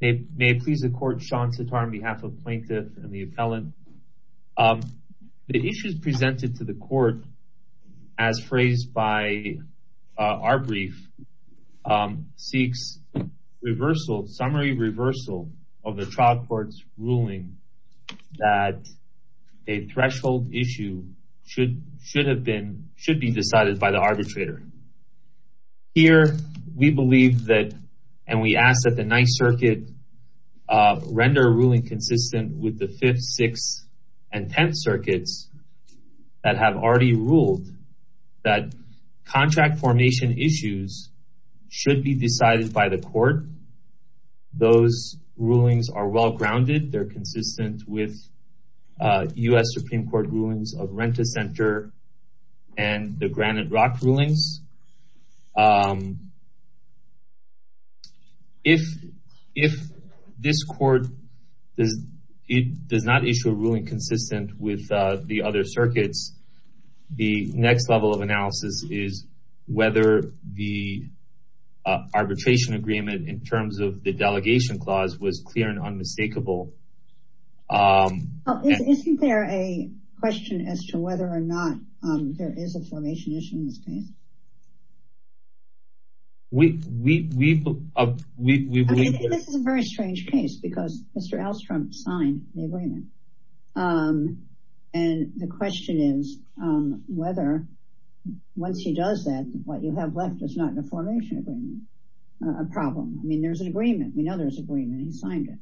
May it please the court, Sean Sitar on behalf of plaintiff and the appellant. The issues presented to the court, as phrased by our brief, seeks summary reversal of the trial court's ruling that a threshold issue should be decided by the arbitrator. Here, we believe that, and we ask that the Ninth Circuit render a ruling consistent with the Fifth, Sixth, and Tenth Circuits that have already ruled that contract formation issues should be decided by the court. Those rulings are well-grounded. They're consistent with U.S. Supreme Court rulings of Rent-A-Center and the Granite Rock rulings. If this court does not issue a ruling consistent with the other circuits, the next level of analysis is whether the arbitration agreement, in terms of the delegation clause, was clear and unmistakable. Isn't there a question as to whether or not there is a formation issue in this case? I mean, this is a very strange case, because Mr. Alstrom signed the agreement. And the question is whether, once he does that, what you have left is not a formation agreement, a problem. I mean, there's an agreement. We know there's an agreement, he signed it.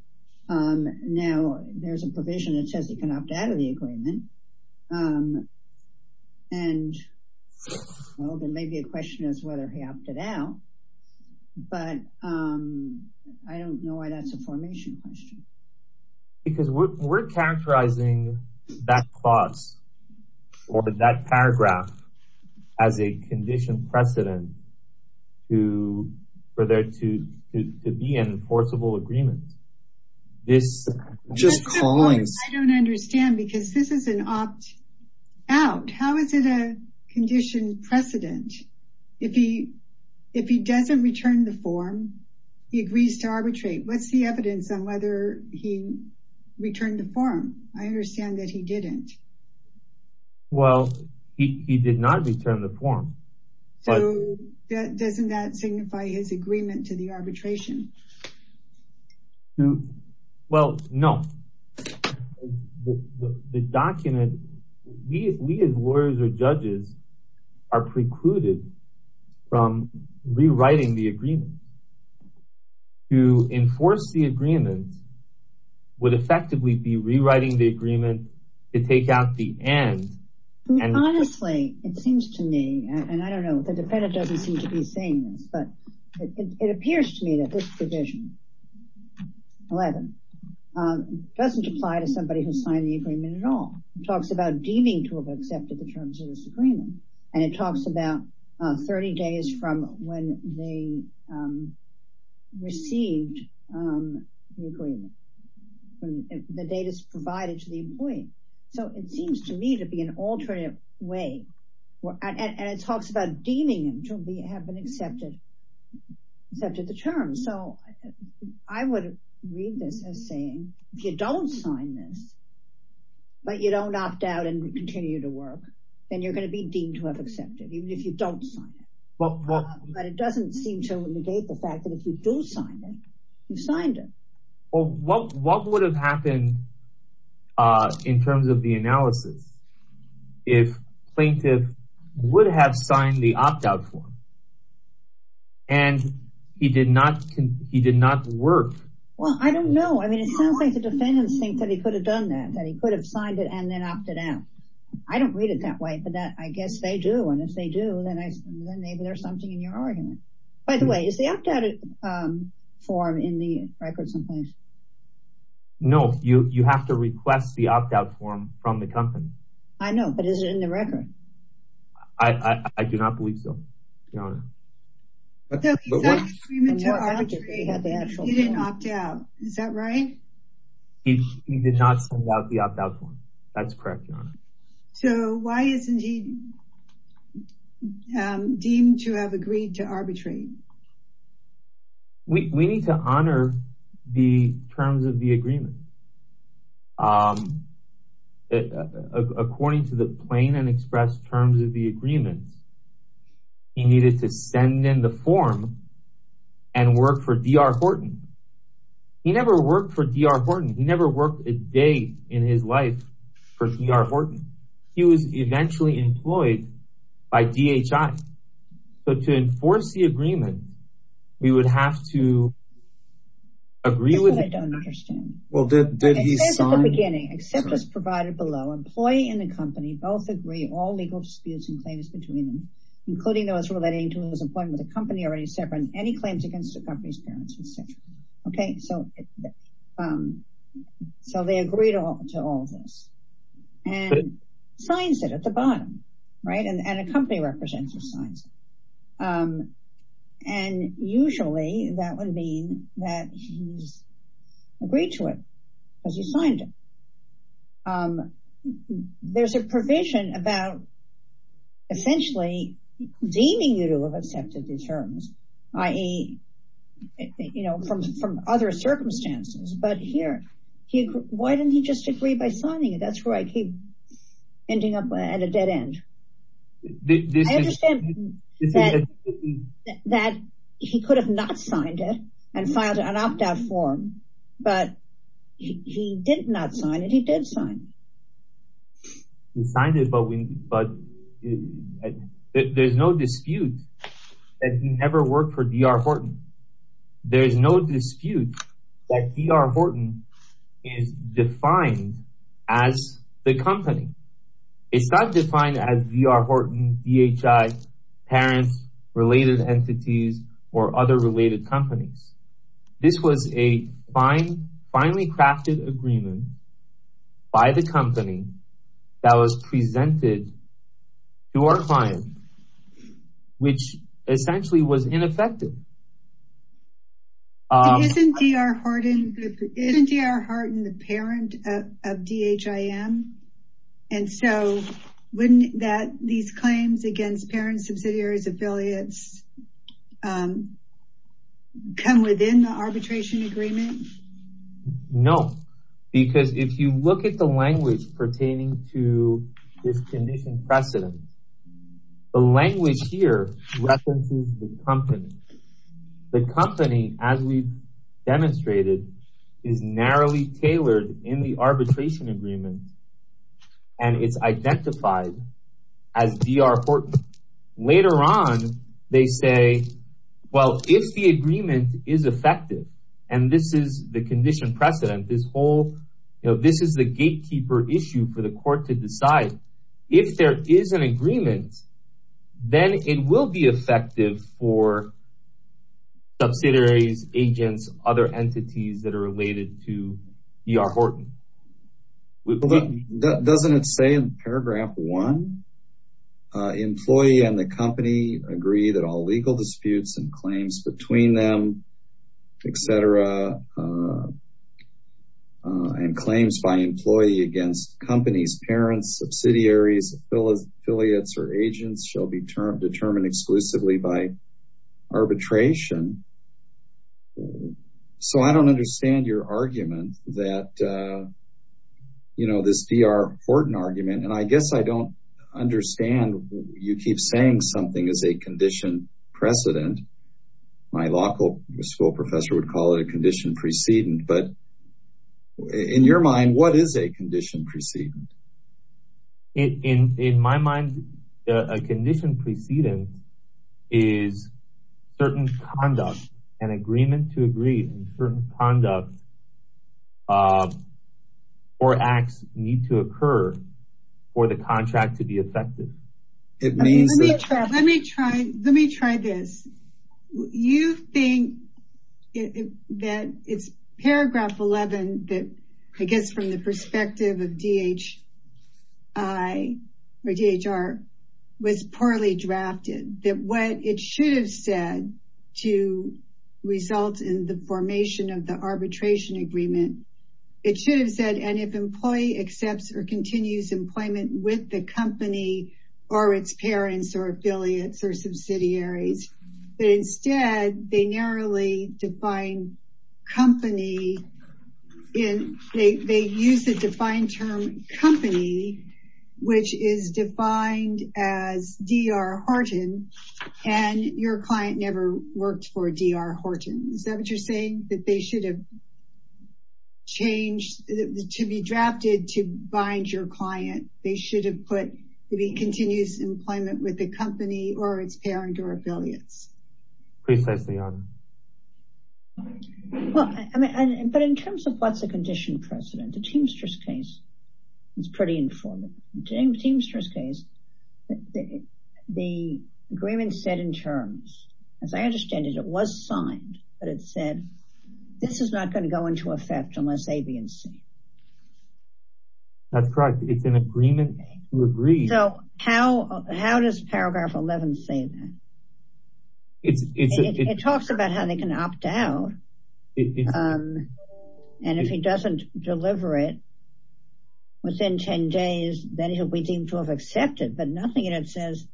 Now, there's a provision that says he can opt out of the agreement. And, well, there may be a question as to whether he opted out, but I don't know why that's a formation question. Because we're characterizing that clause or that paragraph as a condition precedent for there to be an enforceable agreement. It's just callings. I don't understand, because this is an opt out. How is it a condition precedent? If he doesn't return the form, he agrees to arbitrate. What's the evidence on whether he returned the form? I understand that he didn't. Well, he did not return the form. So doesn't that signify his agreement to the arbitration? Well, no. The document, we as lawyers or judges are precluded from rewriting the agreement. To enforce the agreement would effectively be rewriting the agreement to take out the end. Honestly, it seems to me, and I don't know, the defendant doesn't seem to be saying this, but it appears to me that this provision, 11, doesn't apply to somebody who signed the agreement at all. It talks about deeming to have accepted the terms of this agreement. And it talks about 30 days from when they received the agreement. The date is provided to the employee. So it seems to me to be an alternative way. And it talks about deeming to have been accepted the terms. So I would read this as saying, if you don't sign this, but you don't opt out and continue to work, then you're gonna be deemed to have accepted, even if you don't sign it. But it doesn't seem to negate the fact that if you do sign it, you signed it. Well, what would have happened in terms of the analysis if plaintiff would have signed the opt-out form and he did not work? Well, I don't know. I mean, it sounds like the defendants think that he could have done that, that he could have signed it and then opted out. I don't read it that way, but I guess they do. And if they do, then maybe there's something in your argument. By the way, is the opt-out form in the record someplace? No, you have to request the opt-out form from the company. I know, but is it in the record? I do not believe so. Your Honor. So he signed the agreement to arbitrate, he didn't opt out, is that right? He did not send out the opt-out form. That's correct, Your Honor. So why isn't he deemed to have agreed to arbitrate? We need to honor the terms of the agreement. According to the plain and expressed terms of the agreement, he needed to send in the form and work for D.R. Horton. He never worked for D.R. Horton. He never worked a day in his life for D.R. Horton. He was eventually employed by DHI. So to enforce the agreement, we would have to agree with- This is what I don't understand. Well, did he sign- Except at the beginning, except as provided below, employee and the company both agree all legal disputes and claims between them, including those relating to his employment with the company already separate, any claims against the company's parents, et cetera. Okay, so they agreed to all of this. And signs it at the bottom, right? And a company representative signs it. And usually that would mean that he's agreed to it because he signed it. There's a provision about essentially deeming you to have accepted the terms, i.e. from other circumstances. But here, why didn't he just agree by signing it? That's where I keep ending up at a dead end. I understand that he could have not signed it and filed an opt-out form, but he did not sign it, he did sign. He signed it, but there's no dispute that he never worked for D.R. Horton. There's no dispute that D.R. Horton is defined as the company. It's not defined as D.R. Horton, DHI, parents, related entities, or other related companies. This was a finely crafted agreement by the company that was presented to our client, which essentially was ineffective. Isn't D.R. Horton the parent of DHIM? And so wouldn't that these claims against parents, subsidiaries, affiliates come within the arbitration agreement? No, because if you look at the language pertaining to this condition precedent, the language here references the company. The company, as we've demonstrated, is narrowly tailored in the arbitration agreement and it's identified as D.R. Horton. Later on, they say, well, if the agreement is effective and this is the condition precedent, this whole, this is the gatekeeper issue for the court to decide, if there is an agreement, then it will be effective for subsidiaries, agents, other entities that are related to D.R. Horton. Doesn't it say in paragraph one, employee and the company agree that all legal disputes and claims between them, et cetera, and claims by employee against companies, parents, subsidiaries, affiliates, or agents shall be determined exclusively by arbitration. So I don't understand your argument that this D.R. Horton argument, and I guess I don't understand, you keep saying something is a condition precedent. My local school professor would call it a condition precedent, but in your mind, what is a condition precedent? In my mind, a condition precedent is certain conduct and agreement to agree on certain conduct or acts need to occur for the contract to be effective. It means- Let me try this. You think that it's paragraph 11, that I guess from the perspective of D.H.I. or D.H.R. was poorly drafted, that what it should have said to result in the formation of the arbitration agreement, it should have said, and if employee accepts or continues employment with the company or its parents or affiliates or subsidiaries, but instead they narrowly define company in, they use the defined term company, which is defined as D.R. Horton, and your client never worked for D.R. Horton. Is that what you're saying? That they should have changed, to be drafted to bind your client. They should have put the continuous employment with the company or its parent or affiliates. Please say it's the other. Well, but in terms of what's a condition precedent, the Teamsters case is pretty informative. In Teamsters case, the agreement said in terms, as I understand it, it was signed, but it said this is not going to go into effect unless A, B and C. That's correct. It's an agreement to agree. So how does paragraph 11 say that? It talks about how they can opt out. And if he doesn't deliver it within 10 days, then he'll be deemed to have accepted, but nothing in it says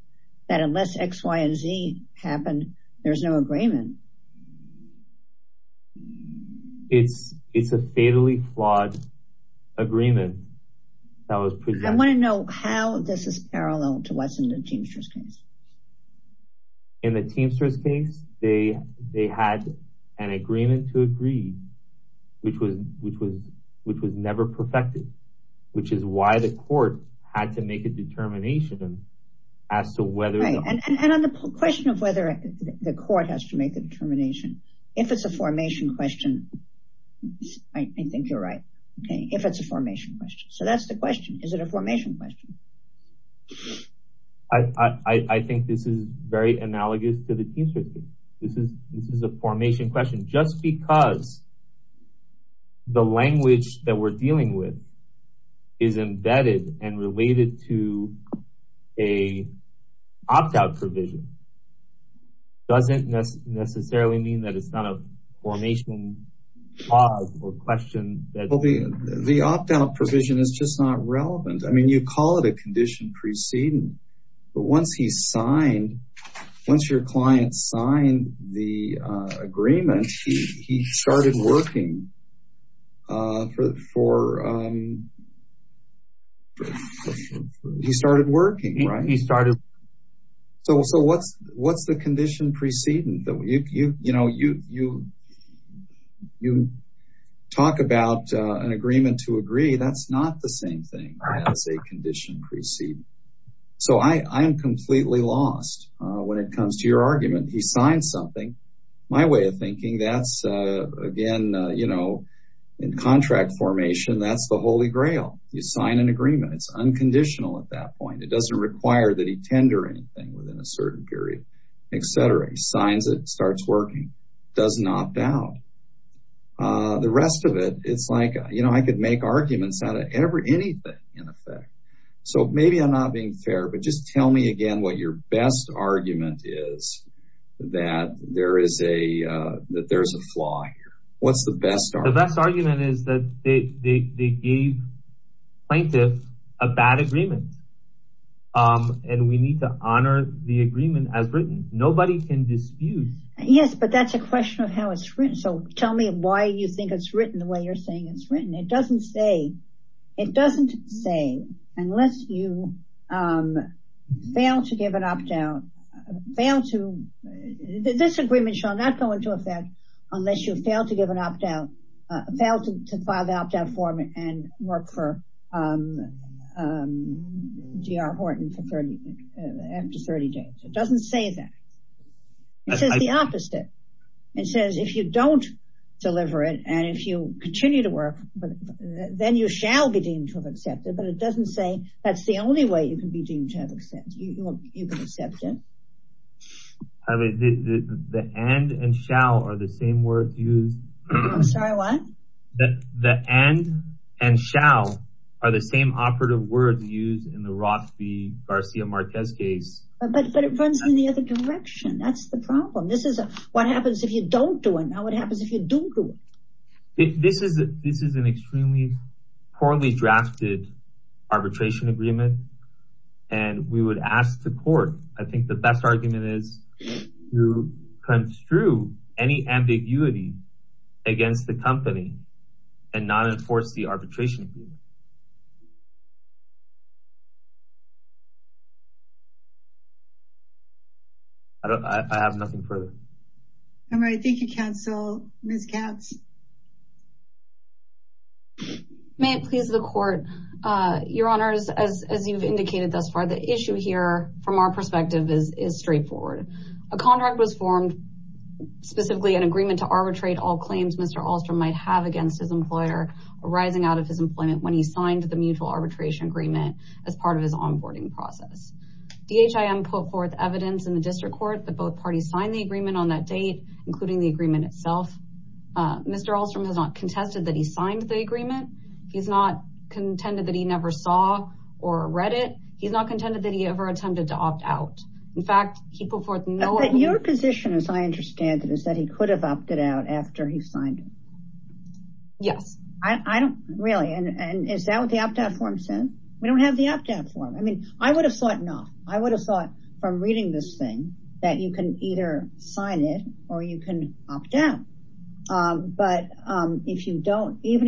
that unless X, Y and Z happened, there's no agreement. It's a fatally flawed agreement that was presented. I want to know how this is parallel to what's in the Teamsters case. In the Teamsters case, they had an agreement to agree, which was never perfected, which is why the court had to make a determination as to whether- Right, and on the question of whether the court has to make the determination, if it's a formation question, I think you're right. Okay, if it's a formation question. So that's the question. Is it a formation question? I think this is very analogous to the Teamsters case. This is a formation question, just because the language that we're dealing with is embedded and related to a opt-out provision doesn't necessarily mean that it's not a formation clause or question that- The opt-out provision is just not relevant. I mean, you call it a condition preceding, but once he's signed, once your client signed the agreement, he started working for... He started working, right? He started- So what's the condition preceding? You talk about an agreement to agree. That's not the same thing as a condition preceding. So I am completely lost when it comes to your argument. He signed something. My way of thinking, that's, again, in contract formation, that's the Holy Grail. You sign an agreement. It's unconditional at that point. It doesn't require that he tender anything within a certain period, et cetera. He signs it, starts working, does not doubt. The rest of it, it's like, I could make arguments out of anything, in effect. So maybe I'm not being fair, but just tell me again what your best argument is that there's a flaw here. What's the best argument? The best argument is that they gave plaintiff a bad agreement, and we need to honor the agreement as written. Nobody can dispute. Yes, but that's a question of how it's written. So tell me why you think it's written the way you're saying it's written. It doesn't say, it doesn't say, unless you fail to give an opt-out, fail to, this agreement shall not go into effect unless you fail to give an opt-out, fail to file the opt-out form and work for G.R. Horton for 30, after 30 days. It doesn't say that. It says the opposite. It says, if you don't deliver it, and if you continue to work, then you shall be deemed to have accepted, but it doesn't say that's the only way you can be deemed to have accepted. You can accept it. I mean, the and and shall are the same words used. I'm sorry, what? The and and shall are the same operative words used in the Rothby-Garcia-Martez case. But it runs in the other direction. That's the problem. This is what happens if you don't do it. Now what happens if you do do it? This is an extremely poorly drafted arbitration agreement. And we would ask the court, I think the best argument is to construe any ambiguity against the company, and not enforce the arbitration agreement. I have nothing further. I'm ready. Thank you, counsel. Ms. Katz. May it please the court. Your honors, as you've indicated thus far, the issue here from our perspective is straightforward. A contract was formed, specifically an agreement to arbitrate all claims Mr. Ahlstrom might have against his employer arising out of his employment when he signed the mutual arbitration agreement as part of his onboarding process. DHIM put forth evidence in the district court that both parties signed the agreement on that date, including the agreement itself. Mr. Ahlstrom has not contested that he signed the agreement. He's not contended that he never saw or read it. He's not contended that he ever attempted to opt out. In fact, he put forth no- But your position, as I understand it, is that he could have opted out after he signed it. Yes. I don't really. And is that what the opt-out form says? We don't have the opt-out form. I mean, I would have thought not. I would have thought from reading this thing that you can either sign it or you can opt out. But even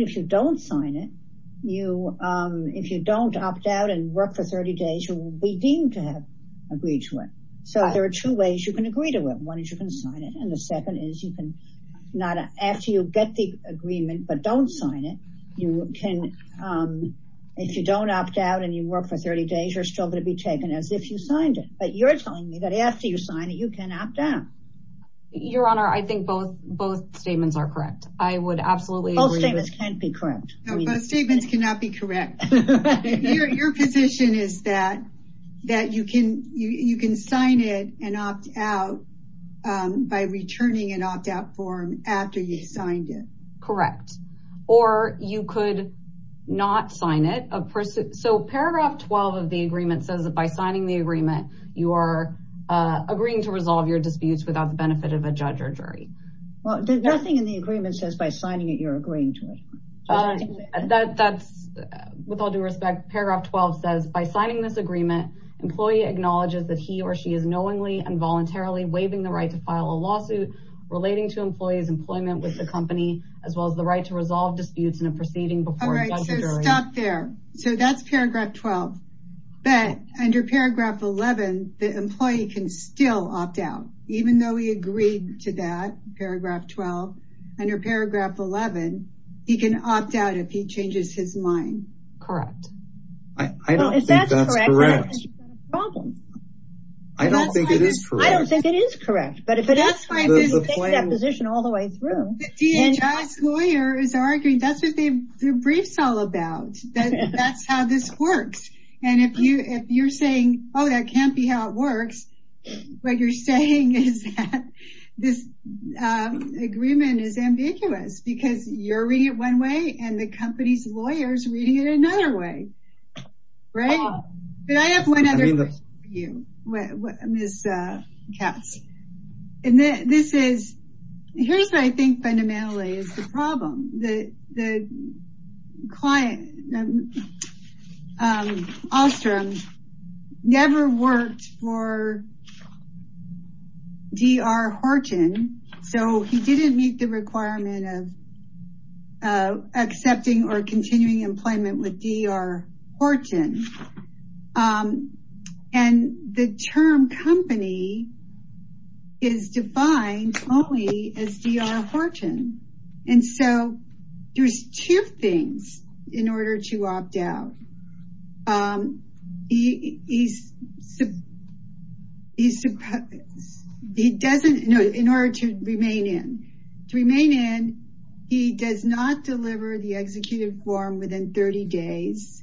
if you don't sign it, if you don't opt out and work for 30 days, you will be deemed to have agreed to it. So there are two ways you can agree to it. One is you can sign it. And the second is you can not, after you get the agreement, but don't sign it, you can, if you don't opt out and you work for 30 days, you're still going to be taken as if you signed it. But you're telling me that after you sign it, you can opt out. Your Honor, I think both statements are correct. I would absolutely agree with- Both statements can't be correct. No, both statements cannot be correct. Your position is that you can sign it and opt out by returning an opt-out form after you signed it. Correct. Or you could not sign it. So paragraph 12 of the agreement says that by signing the agreement, you are agreeing to resolve your disputes without the benefit of a judge or jury. Well, nothing in the agreement says by signing it, you're agreeing to it. That's, with all due respect, paragraph 12 says, by signing this agreement, employee acknowledges that he or she is knowingly and voluntarily waiving the right to file a lawsuit relating to employee's employment with the company, as well as the right to resolve disputes in a proceeding before a judge or jury. All right, so stop there. So that's paragraph 12. But under paragraph 11, the employee can still opt out, even though he agreed to that, paragraph 12. Under paragraph 11, he can opt out if he changes his mind. Correct. I don't think that's correct. I don't think it is correct. I don't think it is correct, but if it is, you can take that position all the way through. The DHS lawyer is arguing, that's what the brief's all about, that that's how this works. And if you're saying, oh, that can't be how it works, what you're saying is that this agreement is ambiguous because you're reading it one way and the company's lawyer's reading it another way, right? But I have one other question for you, Ms. Katz. And this is, here's what I think, fundamentally, is the problem. The client, Ostrom, never worked for D.R. Horton. So he didn't meet the requirement of accepting or continuing employment with D.R. Horton. And the term company is defined only as D.R. Horton. And so there's two things in order to opt out. He doesn't, no, in order to remain in. To remain in, he does not deliver the executive form within 30 days.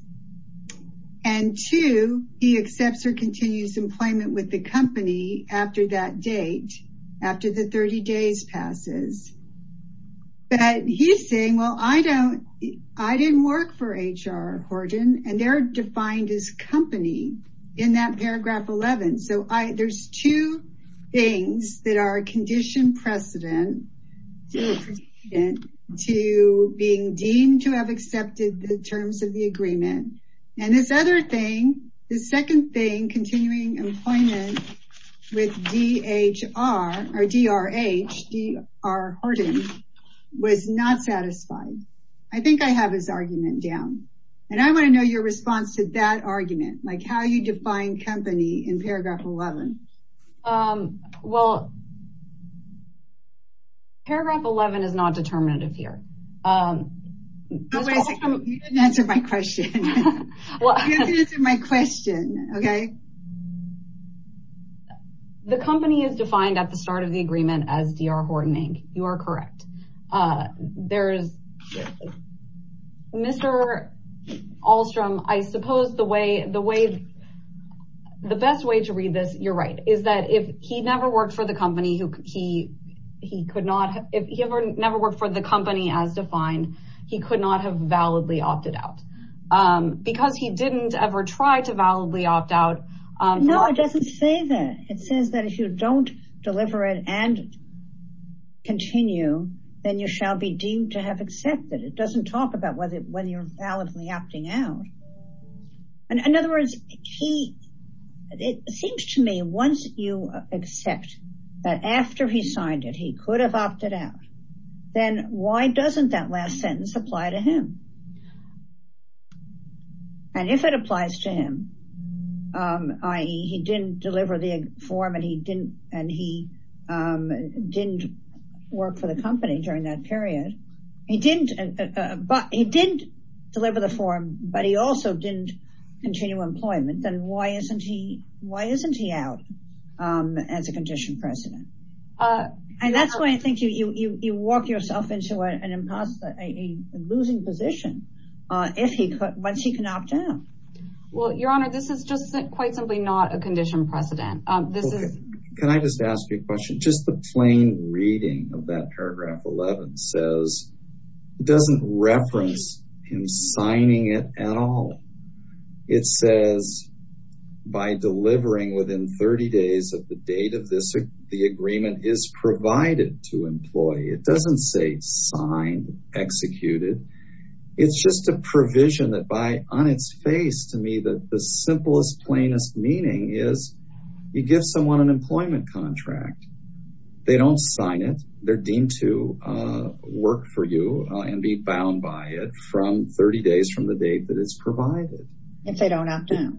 And two, he accepts or continues employment with the company after that date, after the 30 days passes. But he's saying, well, I didn't work for H.R. Horton and they're defined as company in that paragraph 11. So there's two things that are a condition precedent to being deemed to have accepted the terms of the agreement. And this other thing, the second thing, continuing employment with D.H.R. or D.R.H., D.R. Horton. Was not satisfied. I think I have his argument down. And I want to know your response to that argument. Like how you define company in paragraph 11. Well, paragraph 11 is not determinative here. You didn't answer my question. You didn't answer my question, okay. The company is defined at the start of the agreement as D.R. Horton Inc. You are correct. Mr. Ahlstrom, I suppose the best way to read this, you're right, is that if he never worked for the company, he could not, if he never worked for the company as defined, he could not have validly opted out. Because he didn't ever try to validly opt out. No, it doesn't say that. It says that if you don't deliver it and continue, then you shall be deemed to have accepted. It doesn't talk about whether you're validly opting out. And in other words, it seems to me, once you accept that after he signed it, he could have opted out, then why doesn't that last sentence apply to him? And if it applies to him, i.e. he didn't deliver the form and he didn't work for the company during that period, he didn't deliver the form, but he also didn't continue employment, then why isn't he out as a conditioned president? And that's why I think you walk yourself into a losing position once he can opt out. Well, Your Honor, this is just quite simply not a conditioned precedent. This is- Can I just ask you a question? Just the plain reading of that paragraph 11 says it doesn't reference him signing it at all. It says by delivering within 30 days of the date of the agreement is provided to employee. It doesn't say signed, executed. It's just a provision that by on its face to me that the simplest plainest meaning is you give someone an employment contract. They don't sign it. They're deemed to work for you and be bound by it from 30 days from the date that it's provided. If they don't opt out.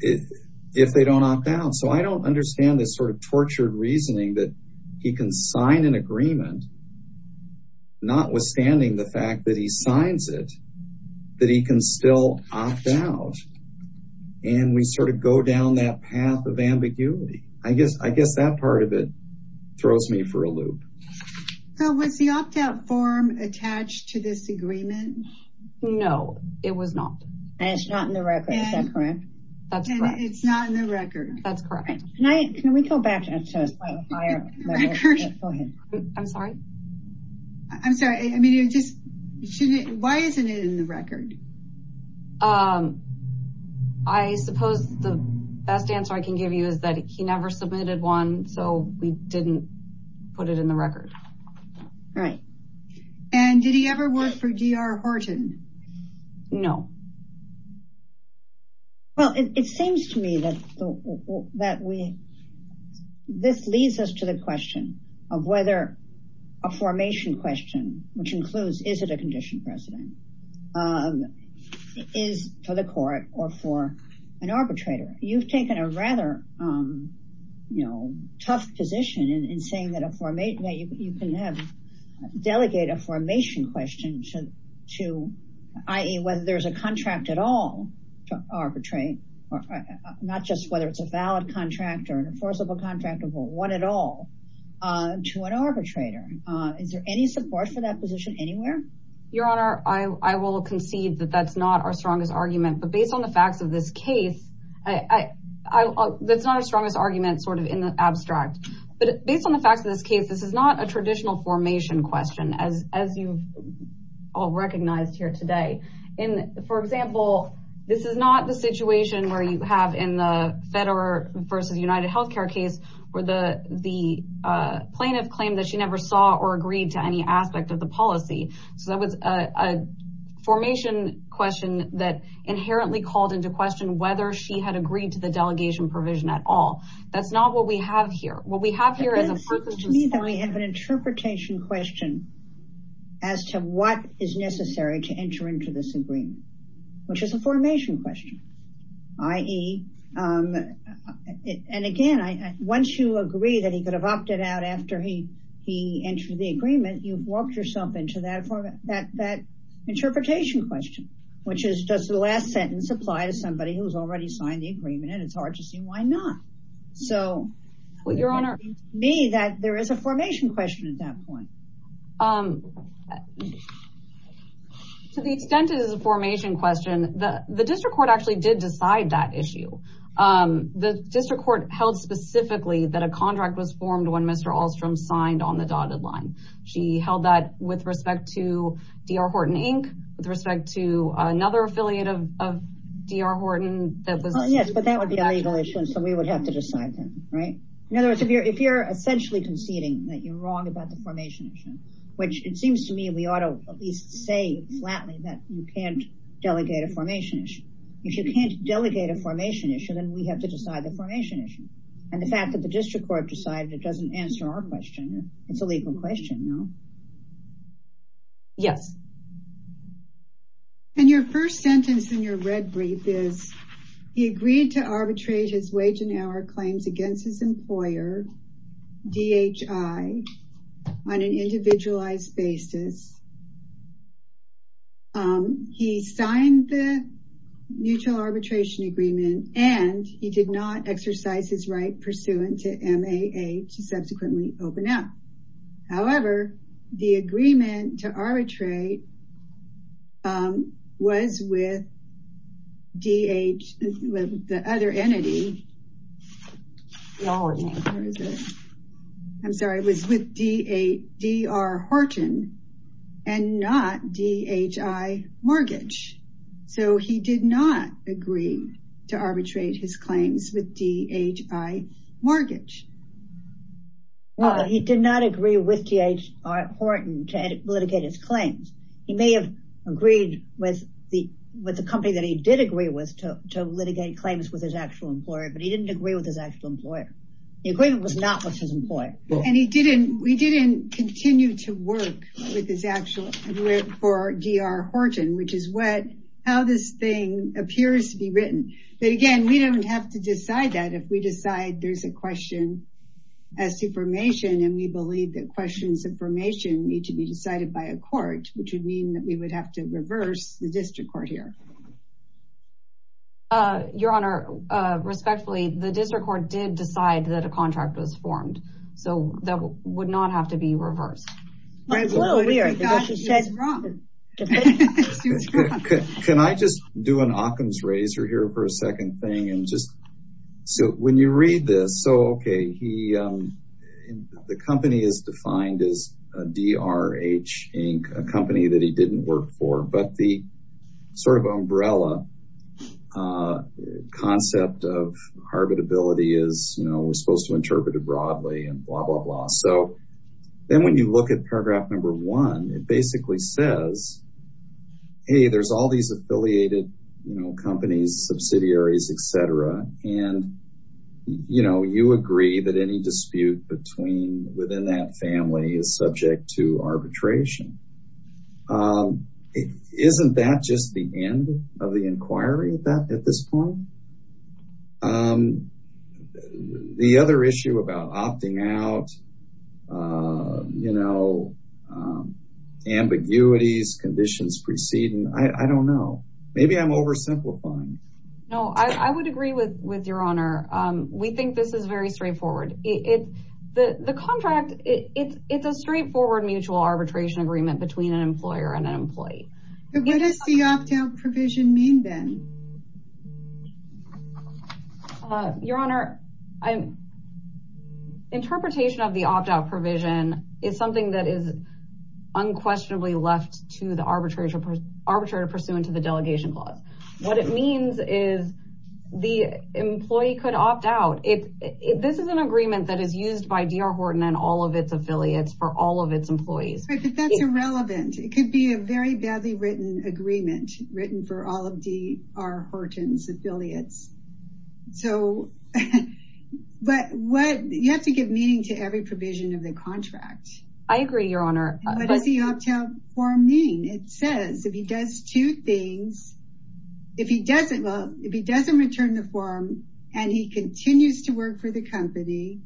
If they don't opt out. So I don't understand this sort of tortured reasoning that he can sign an agreement not withstanding the fact that he signs it that he can still opt out. And we sort of go down that path of ambiguity. I guess that part of it throws me for a loop. So was the opt out form attached to this agreement? No, it was not. And it's not in the record, is that correct? That's correct. And it's not in the record. That's correct. Can we go back to the clarifier? The record? Go ahead. I'm sorry. I'm sorry. Why isn't it in the record? I suppose the best answer I can give you is that he never submitted one. So we didn't put it in the record. Right. And did he ever work for D.R. Horton? No. Well, it seems to me that this leads us to the question of whether a formation question, which includes is it a condition precedent, is for the court or for an arbitrator. You've taken a rather tough position in saying that you can delegate a formation question to i.e. whether there's a contract at all to arbitrate, not just whether it's a valid contract or an enforceable contract or one at all. To an arbitrator. Is there any support for that position anywhere? Your Honor, I will concede that that's not our strongest argument. But based on the facts of this case, that's not our strongest argument sort of in the abstract. But based on the facts of this case, this is not a traditional formation question as you all recognized here today. And for example, this is not the situation where you have in the federal versus United Healthcare case where the plaintiff claimed that she never saw or agreed to any aspect of the policy. So that was a formation question that inherently called into question whether she had agreed to the delegation provision at all. That's not what we have here. What we have here is a person's- It seems to me that we have an interpretation question as to what is necessary to enter into this agreement, which is a formation question. I.e., and again, once you agree that he could have opted out after he entered the agreement, you've walked yourself into that interpretation question, which is, does the last sentence apply to somebody who's already signed the agreement? And it's hard to see why not. So- Well, Your Honor- It seems to me that there is a formation question at that point. To the extent it is a formation question, the district court actually did decide that issue. The district court held specifically that a contract was formed when Mr. Ahlstrom signed on the dotted line. She held that with respect to D.R. Horton Inc., with respect to another affiliate of D.R. Horton that was- Yes, but that would be a legal issue, so we would have to decide then, right? In other words, if you're essentially conceding that you're wrong about the formation issue, which it seems to me we ought to at least say flatly that you can't delegate a formation issue. If you can't delegate a formation issue, then we have to decide the formation issue. And the fact that the district court decided it doesn't answer our question, it's a legal question, no? Yes. And your first sentence in your red brief is, he agreed to arbitrate his wage and hour claims against his employer, DHI, on an individualized basis He signed the mutual arbitration agreement, and he did not exercise his right pursuant to MAA to subsequently open up. However, the agreement to arbitrate was with D.H., with the other entity. Where is it? I'm sorry, it was with D.R. Horton, and not D.H.I. Mortgage. So he did not agree to arbitrate his claims with D.H.I. Mortgage. Well, he did not agree with D.H.I. Horton to litigate his claims. He may have agreed with the company that he did agree with to litigate claims with his actual employer, but he didn't agree with his actual employer. The agreement was not with his employer. And he didn't, we didn't continue to work with his actual employer for D.R. Horton, which is how this thing appears to be written. But again, we don't have to decide that if we decide there's a question as to formation, and we believe that questions of formation need to be decided by a court, which would mean that we would have to reverse the district court here. Your Honor, respectfully, the district court did decide that a contract was formed. So that would not have to be reversed. Can I just do an Occam's razor here for a second thing? And just, so when you read this, so, okay, the company is defined as D.R.H. Inc., a company that he didn't work for, but the sort of umbrella concept of arbitrability is, you know, we're supposed to interpret it broadly and blah, blah, blah. So then when you look at paragraph number one, it basically says, hey, there's all these affiliated, you know, companies, subsidiaries, et cetera. And, you know, you agree that any dispute between within that family is subject to arbitration. Isn't that just the end of the inquiry at this point? The other issue about opting out, you know, ambiguities, conditions preceding, I don't know. Maybe I'm oversimplifying. No, I would agree with your Honor. We think this is very straightforward. The contract, it's a straightforward mutual arbitration agreement between an employer and an employee. But what does the opt-out provision mean then? Your Honor, interpretation of the opt-out provision is something that is unquestionably left to the arbitrator pursuant to the delegation clause. What it means is the employee could opt out. This is an agreement that is used by DR Horton and all of its affiliates for all of its employees. But that's irrelevant. written for all of DR Horton's affiliates. So, but what, you have to give meaning to every provision of the contract. I agree, Your Honor. What does the opt-out form mean? It says, if he does two things, if he doesn't, well, if he doesn't return the form and he continues to work for the company,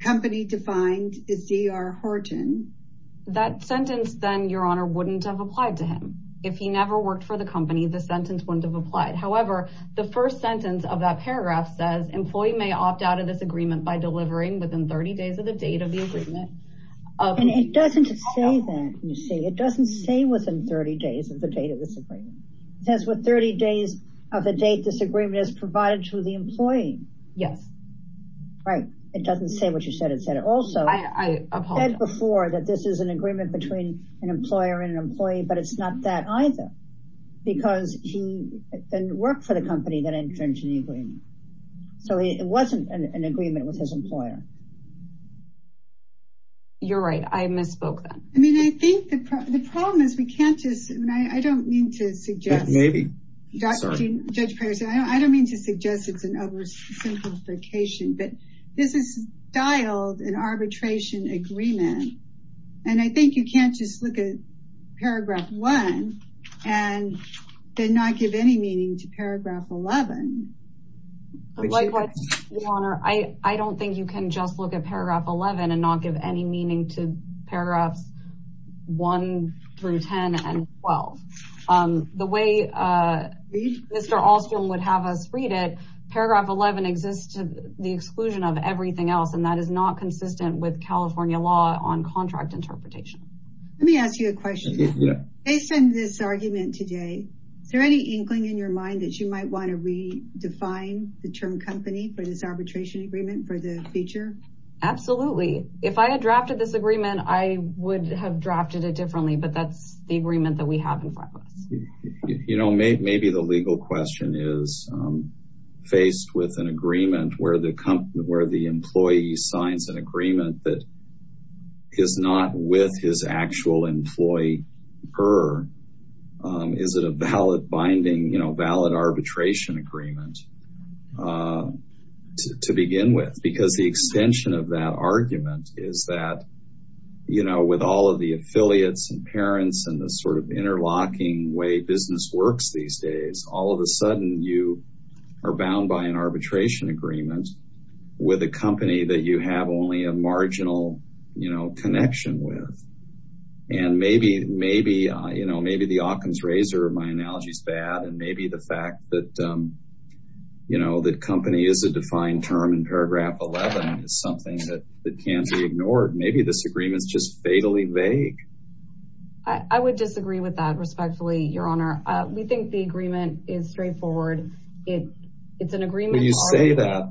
company defined is DR Horton. That sentence then, Your Honor, wouldn't have applied to him. If he never worked for the company, the sentence wouldn't have been applied to him. However, the first sentence of that paragraph says, employee may opt out of this agreement by delivering within 30 days of the date of the agreement. And it doesn't say that, you see. It doesn't say within 30 days of the date of this agreement. It says within 30 days of the date this agreement is provided to the employee. Yes. Right, it doesn't say what you said, it said it also. I apologize. It said before that this is an agreement between an employer and an employee, but it's not that either. Because he didn't work for the company that entered into the agreement. So it wasn't an agreement with his employer. You're right, I misspoke then. I mean, I think the problem is we can't just, I mean, I don't mean to suggest. Maybe, sorry. Judge Perry said, I don't mean to suggest it's an oversimplification, but this is dialed an arbitration agreement. And I think you can't just look at paragraph one and then not give any meaning to paragraph 11. Likewise, Your Honor, I don't think you can just look at paragraph 11 and not give any meaning to paragraphs one through 10 and 12. The way Mr. Ahlstrom would have us read it, paragraph 11 exists to the exclusion of everything else. And that is not consistent with California law on contract interpretation. Let me ask you a question. Based on this argument today, is there any inkling in your mind that you might want to redefine the term company for this arbitration agreement for the future? Absolutely. If I had drafted this agreement, I would have drafted it differently, but that's the agreement that we have in front of us. You know, maybe the legal question is faced with an agreement where the employee signs an agreement that is not with his actual employee, her. Is it a valid binding, you know, valid arbitration agreement to begin with? Because the extension of that argument is that, you know, with all of the affiliates and parents and the sort of interlocking way business works these days, all of a sudden you are bound by an arbitration agreement with a company that you have only a marginal, you know, connection with. And maybe, maybe, you know, maybe the Occam's razor of my analogy is bad. And maybe the fact that, you know, that company is a defined term in paragraph 11 is something that can't be ignored. Maybe this agreement is just fatally vague. I would disagree with that respectfully, your honor. We think the agreement is straightforward. It's an agreement-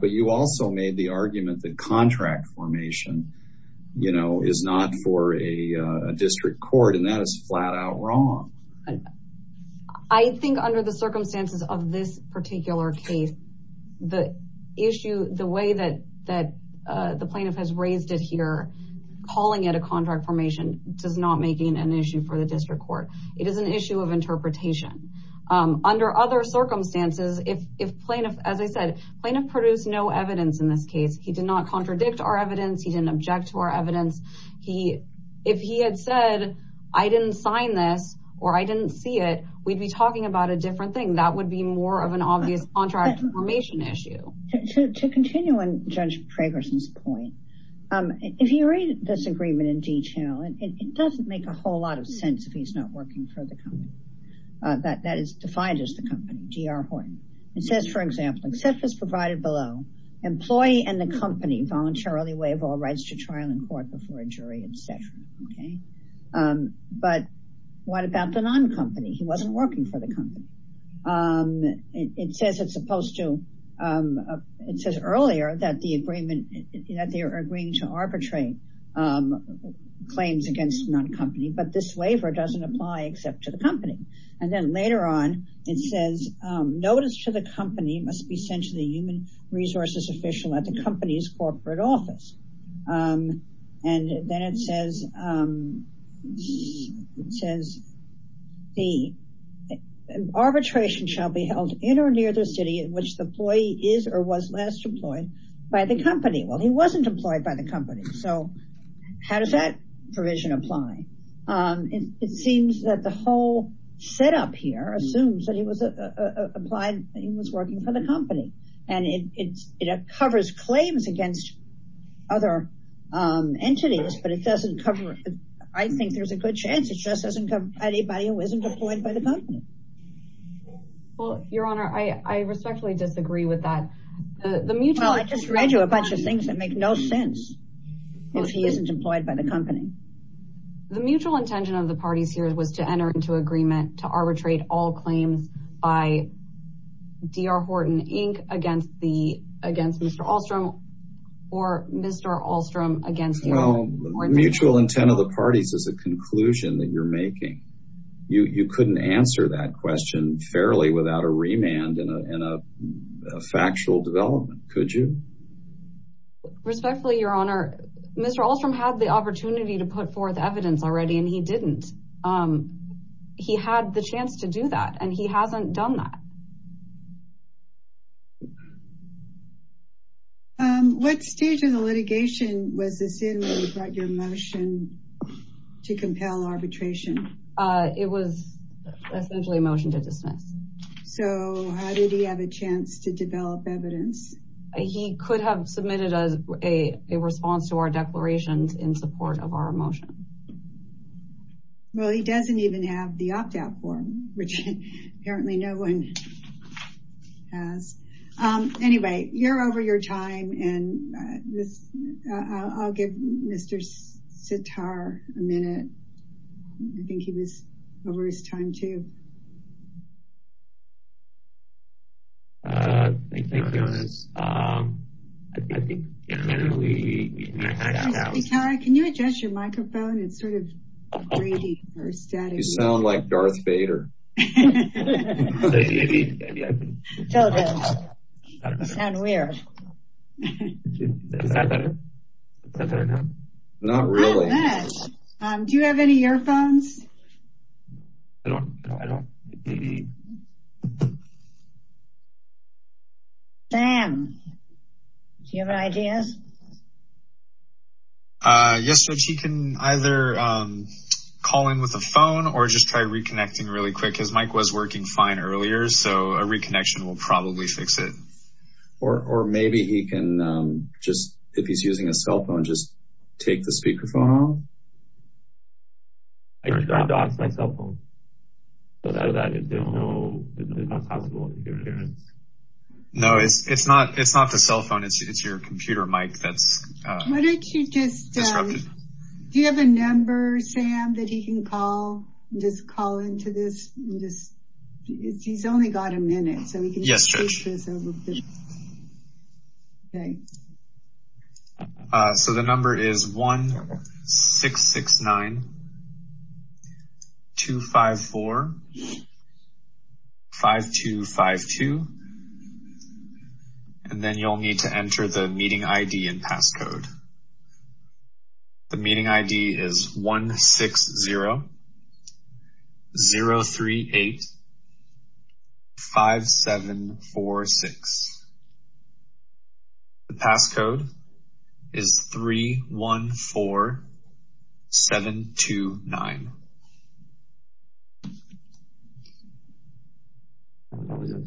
But you also made the argument that contract formation, you know, is not for a district court. And that is flat out wrong. I think under the circumstances of this particular case, the issue, the way that the plaintiff has raised it here, calling it a contract formation does not make it an issue for the district court. It is an issue of interpretation. Under other circumstances, if plaintiff, as I said, plaintiff produced no evidence in this case. He did not contradict our evidence. He didn't object to our evidence. He, if he had said, I didn't sign this, or I didn't see it, we'd be talking about a different thing. That would be more of an obvious contract formation issue. To continue on Judge Fragerson's point, if you read this agreement in detail, and it doesn't make a whole lot of sense if he's not working for the company that is defined as the company, D.R. Horton. It says, for example, except as provided below, employee and the company voluntarily waive all rights to trial in court before a jury, et cetera, okay? But what about the non-company? He wasn't working for the company. It says it's supposed to, it says earlier that the agreement, that they are agreeing to arbitrate claims against non-company, but this waiver doesn't apply except to the company. And then later on, it says, notice to the company must be sent to the human resources official at the company's corporate office. And then it says, it says, arbitration shall be held in or near the city in which the employee is or was last employed by the company. Well, he wasn't employed by the company. So how does that provision apply? It seems that the whole setup here assumes that he was applied, he was working for the company. And it covers claims against other entities, but it doesn't cover, I think there's a good chance it just doesn't cover anybody who isn't employed by the company. Well, your honor, I respectfully disagree with that. The mutual- Well, I just read you a bunch of things that make no sense if he isn't employed by the company. The mutual intention of the parties here was to enter into agreement to arbitrate all claims by D.R. Horton Inc. against Mr. Ahlstrom or Mr. Ahlstrom against- Well, mutual intent of the parties is a conclusion that you're making. You couldn't answer that question fairly without a remand and a factual development, could you? Respectfully, your honor, Mr. Ahlstrom had the opportunity to put forth evidence already and he didn't. He had the chance to do that and he hasn't done that. What stage of the litigation was this in when you brought your motion to compel arbitration? It was essentially a motion to dismiss. So how did he have a chance to develop evidence? He could have submitted a response to our declarations in support of our motion. Well, he doesn't even have the opt-out form, which apparently no one has. Anyway, you're over your time and I'll give Mr. Sitar a minute. I think he was over his time, too. Thank you, your honor. I think generally, I think that was- Mr. Sitar, can you adjust your microphone? It's sort of gritty or static. You sound like Darth Vader. Maybe, maybe I can. Tell them, you sound weird. Is that better? Is that better now? Not really. Not bad. Do you have any earphones? I don't, I don't. Maybe. Sam, do you have any ideas? Yes, Judge, he can either call in with a phone or just try reconnecting really quick because Mike was working fine earlier. So a reconnection will probably fix it. Or maybe he can just, if he's using a cell phone, just take the speakerphone home. I dropped off my cell phone. But other than that, it's not possible. No, it's not the cell phone. It's your computer, Mike, that's disrupted. Why don't you just, do you have a number, Sam, that he can call, just call into this? He's only got a minute, so we can just- Yes, Judge. So the number is 1-669-254-3255. And then you'll need to enter the meeting ID and passcode. The meeting ID is 1-6-0-0-3-8-5-7-4-6. The passcode is 3-1-4-7-2-9. There we go.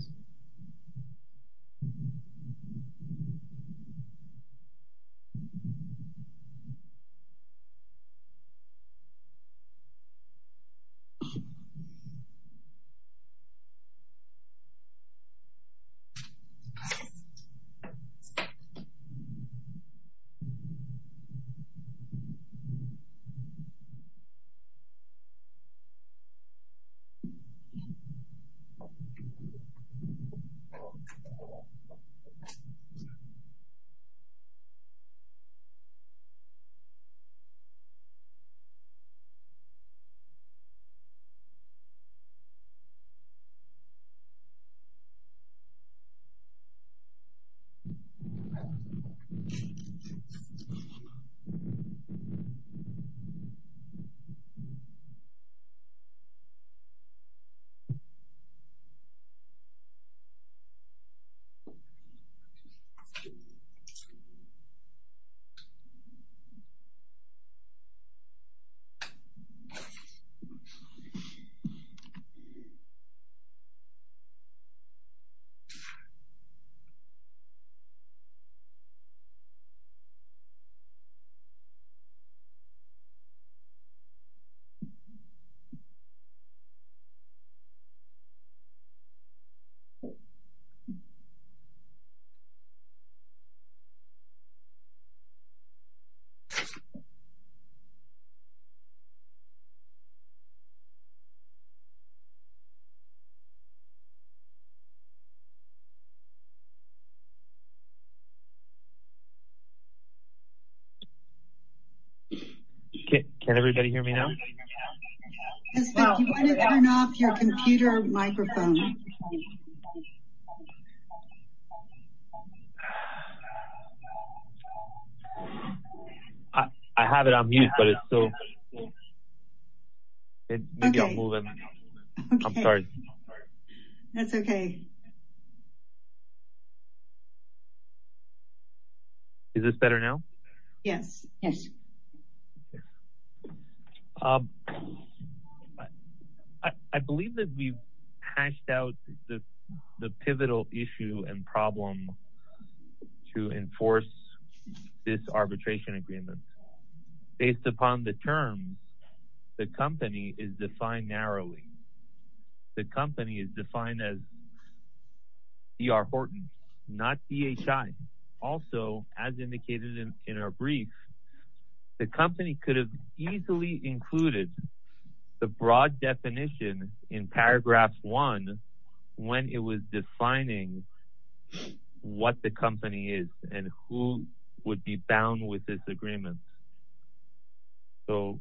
Okay. Can everybody hear me now? Jessica, do you want to turn off your computer microphone? I have it on mute, but it's still, maybe I'll move it. I'm sorry. That's okay. Is this better now? Yes, yes. I believe that we've hashed out the pivotal issue and problem to enforce this arbitration agreement. Based upon the terms, the company is defined narrowly. The company is defined as D.R. Horton, not D.H.I. Also, as indicated in our brief, the company could have easily included the broad definition in paragraph one when it was defining what the company is and who would be bound with this agreement. So,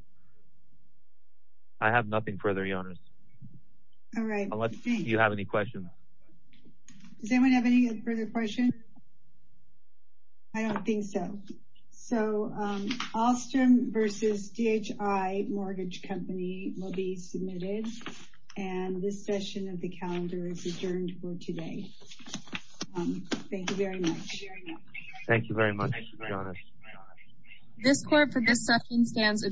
I have nothing further, Your Honors. All right. Unless you have any questions. Does anyone have any further questions? I don't think so. So, Alstrom versus D.H.I. Mortgage Company will be submitted and this session of the calendar is adjourned for today. Thank you very much. Thank you very much, Your Honors. This court for this session stands adjourned.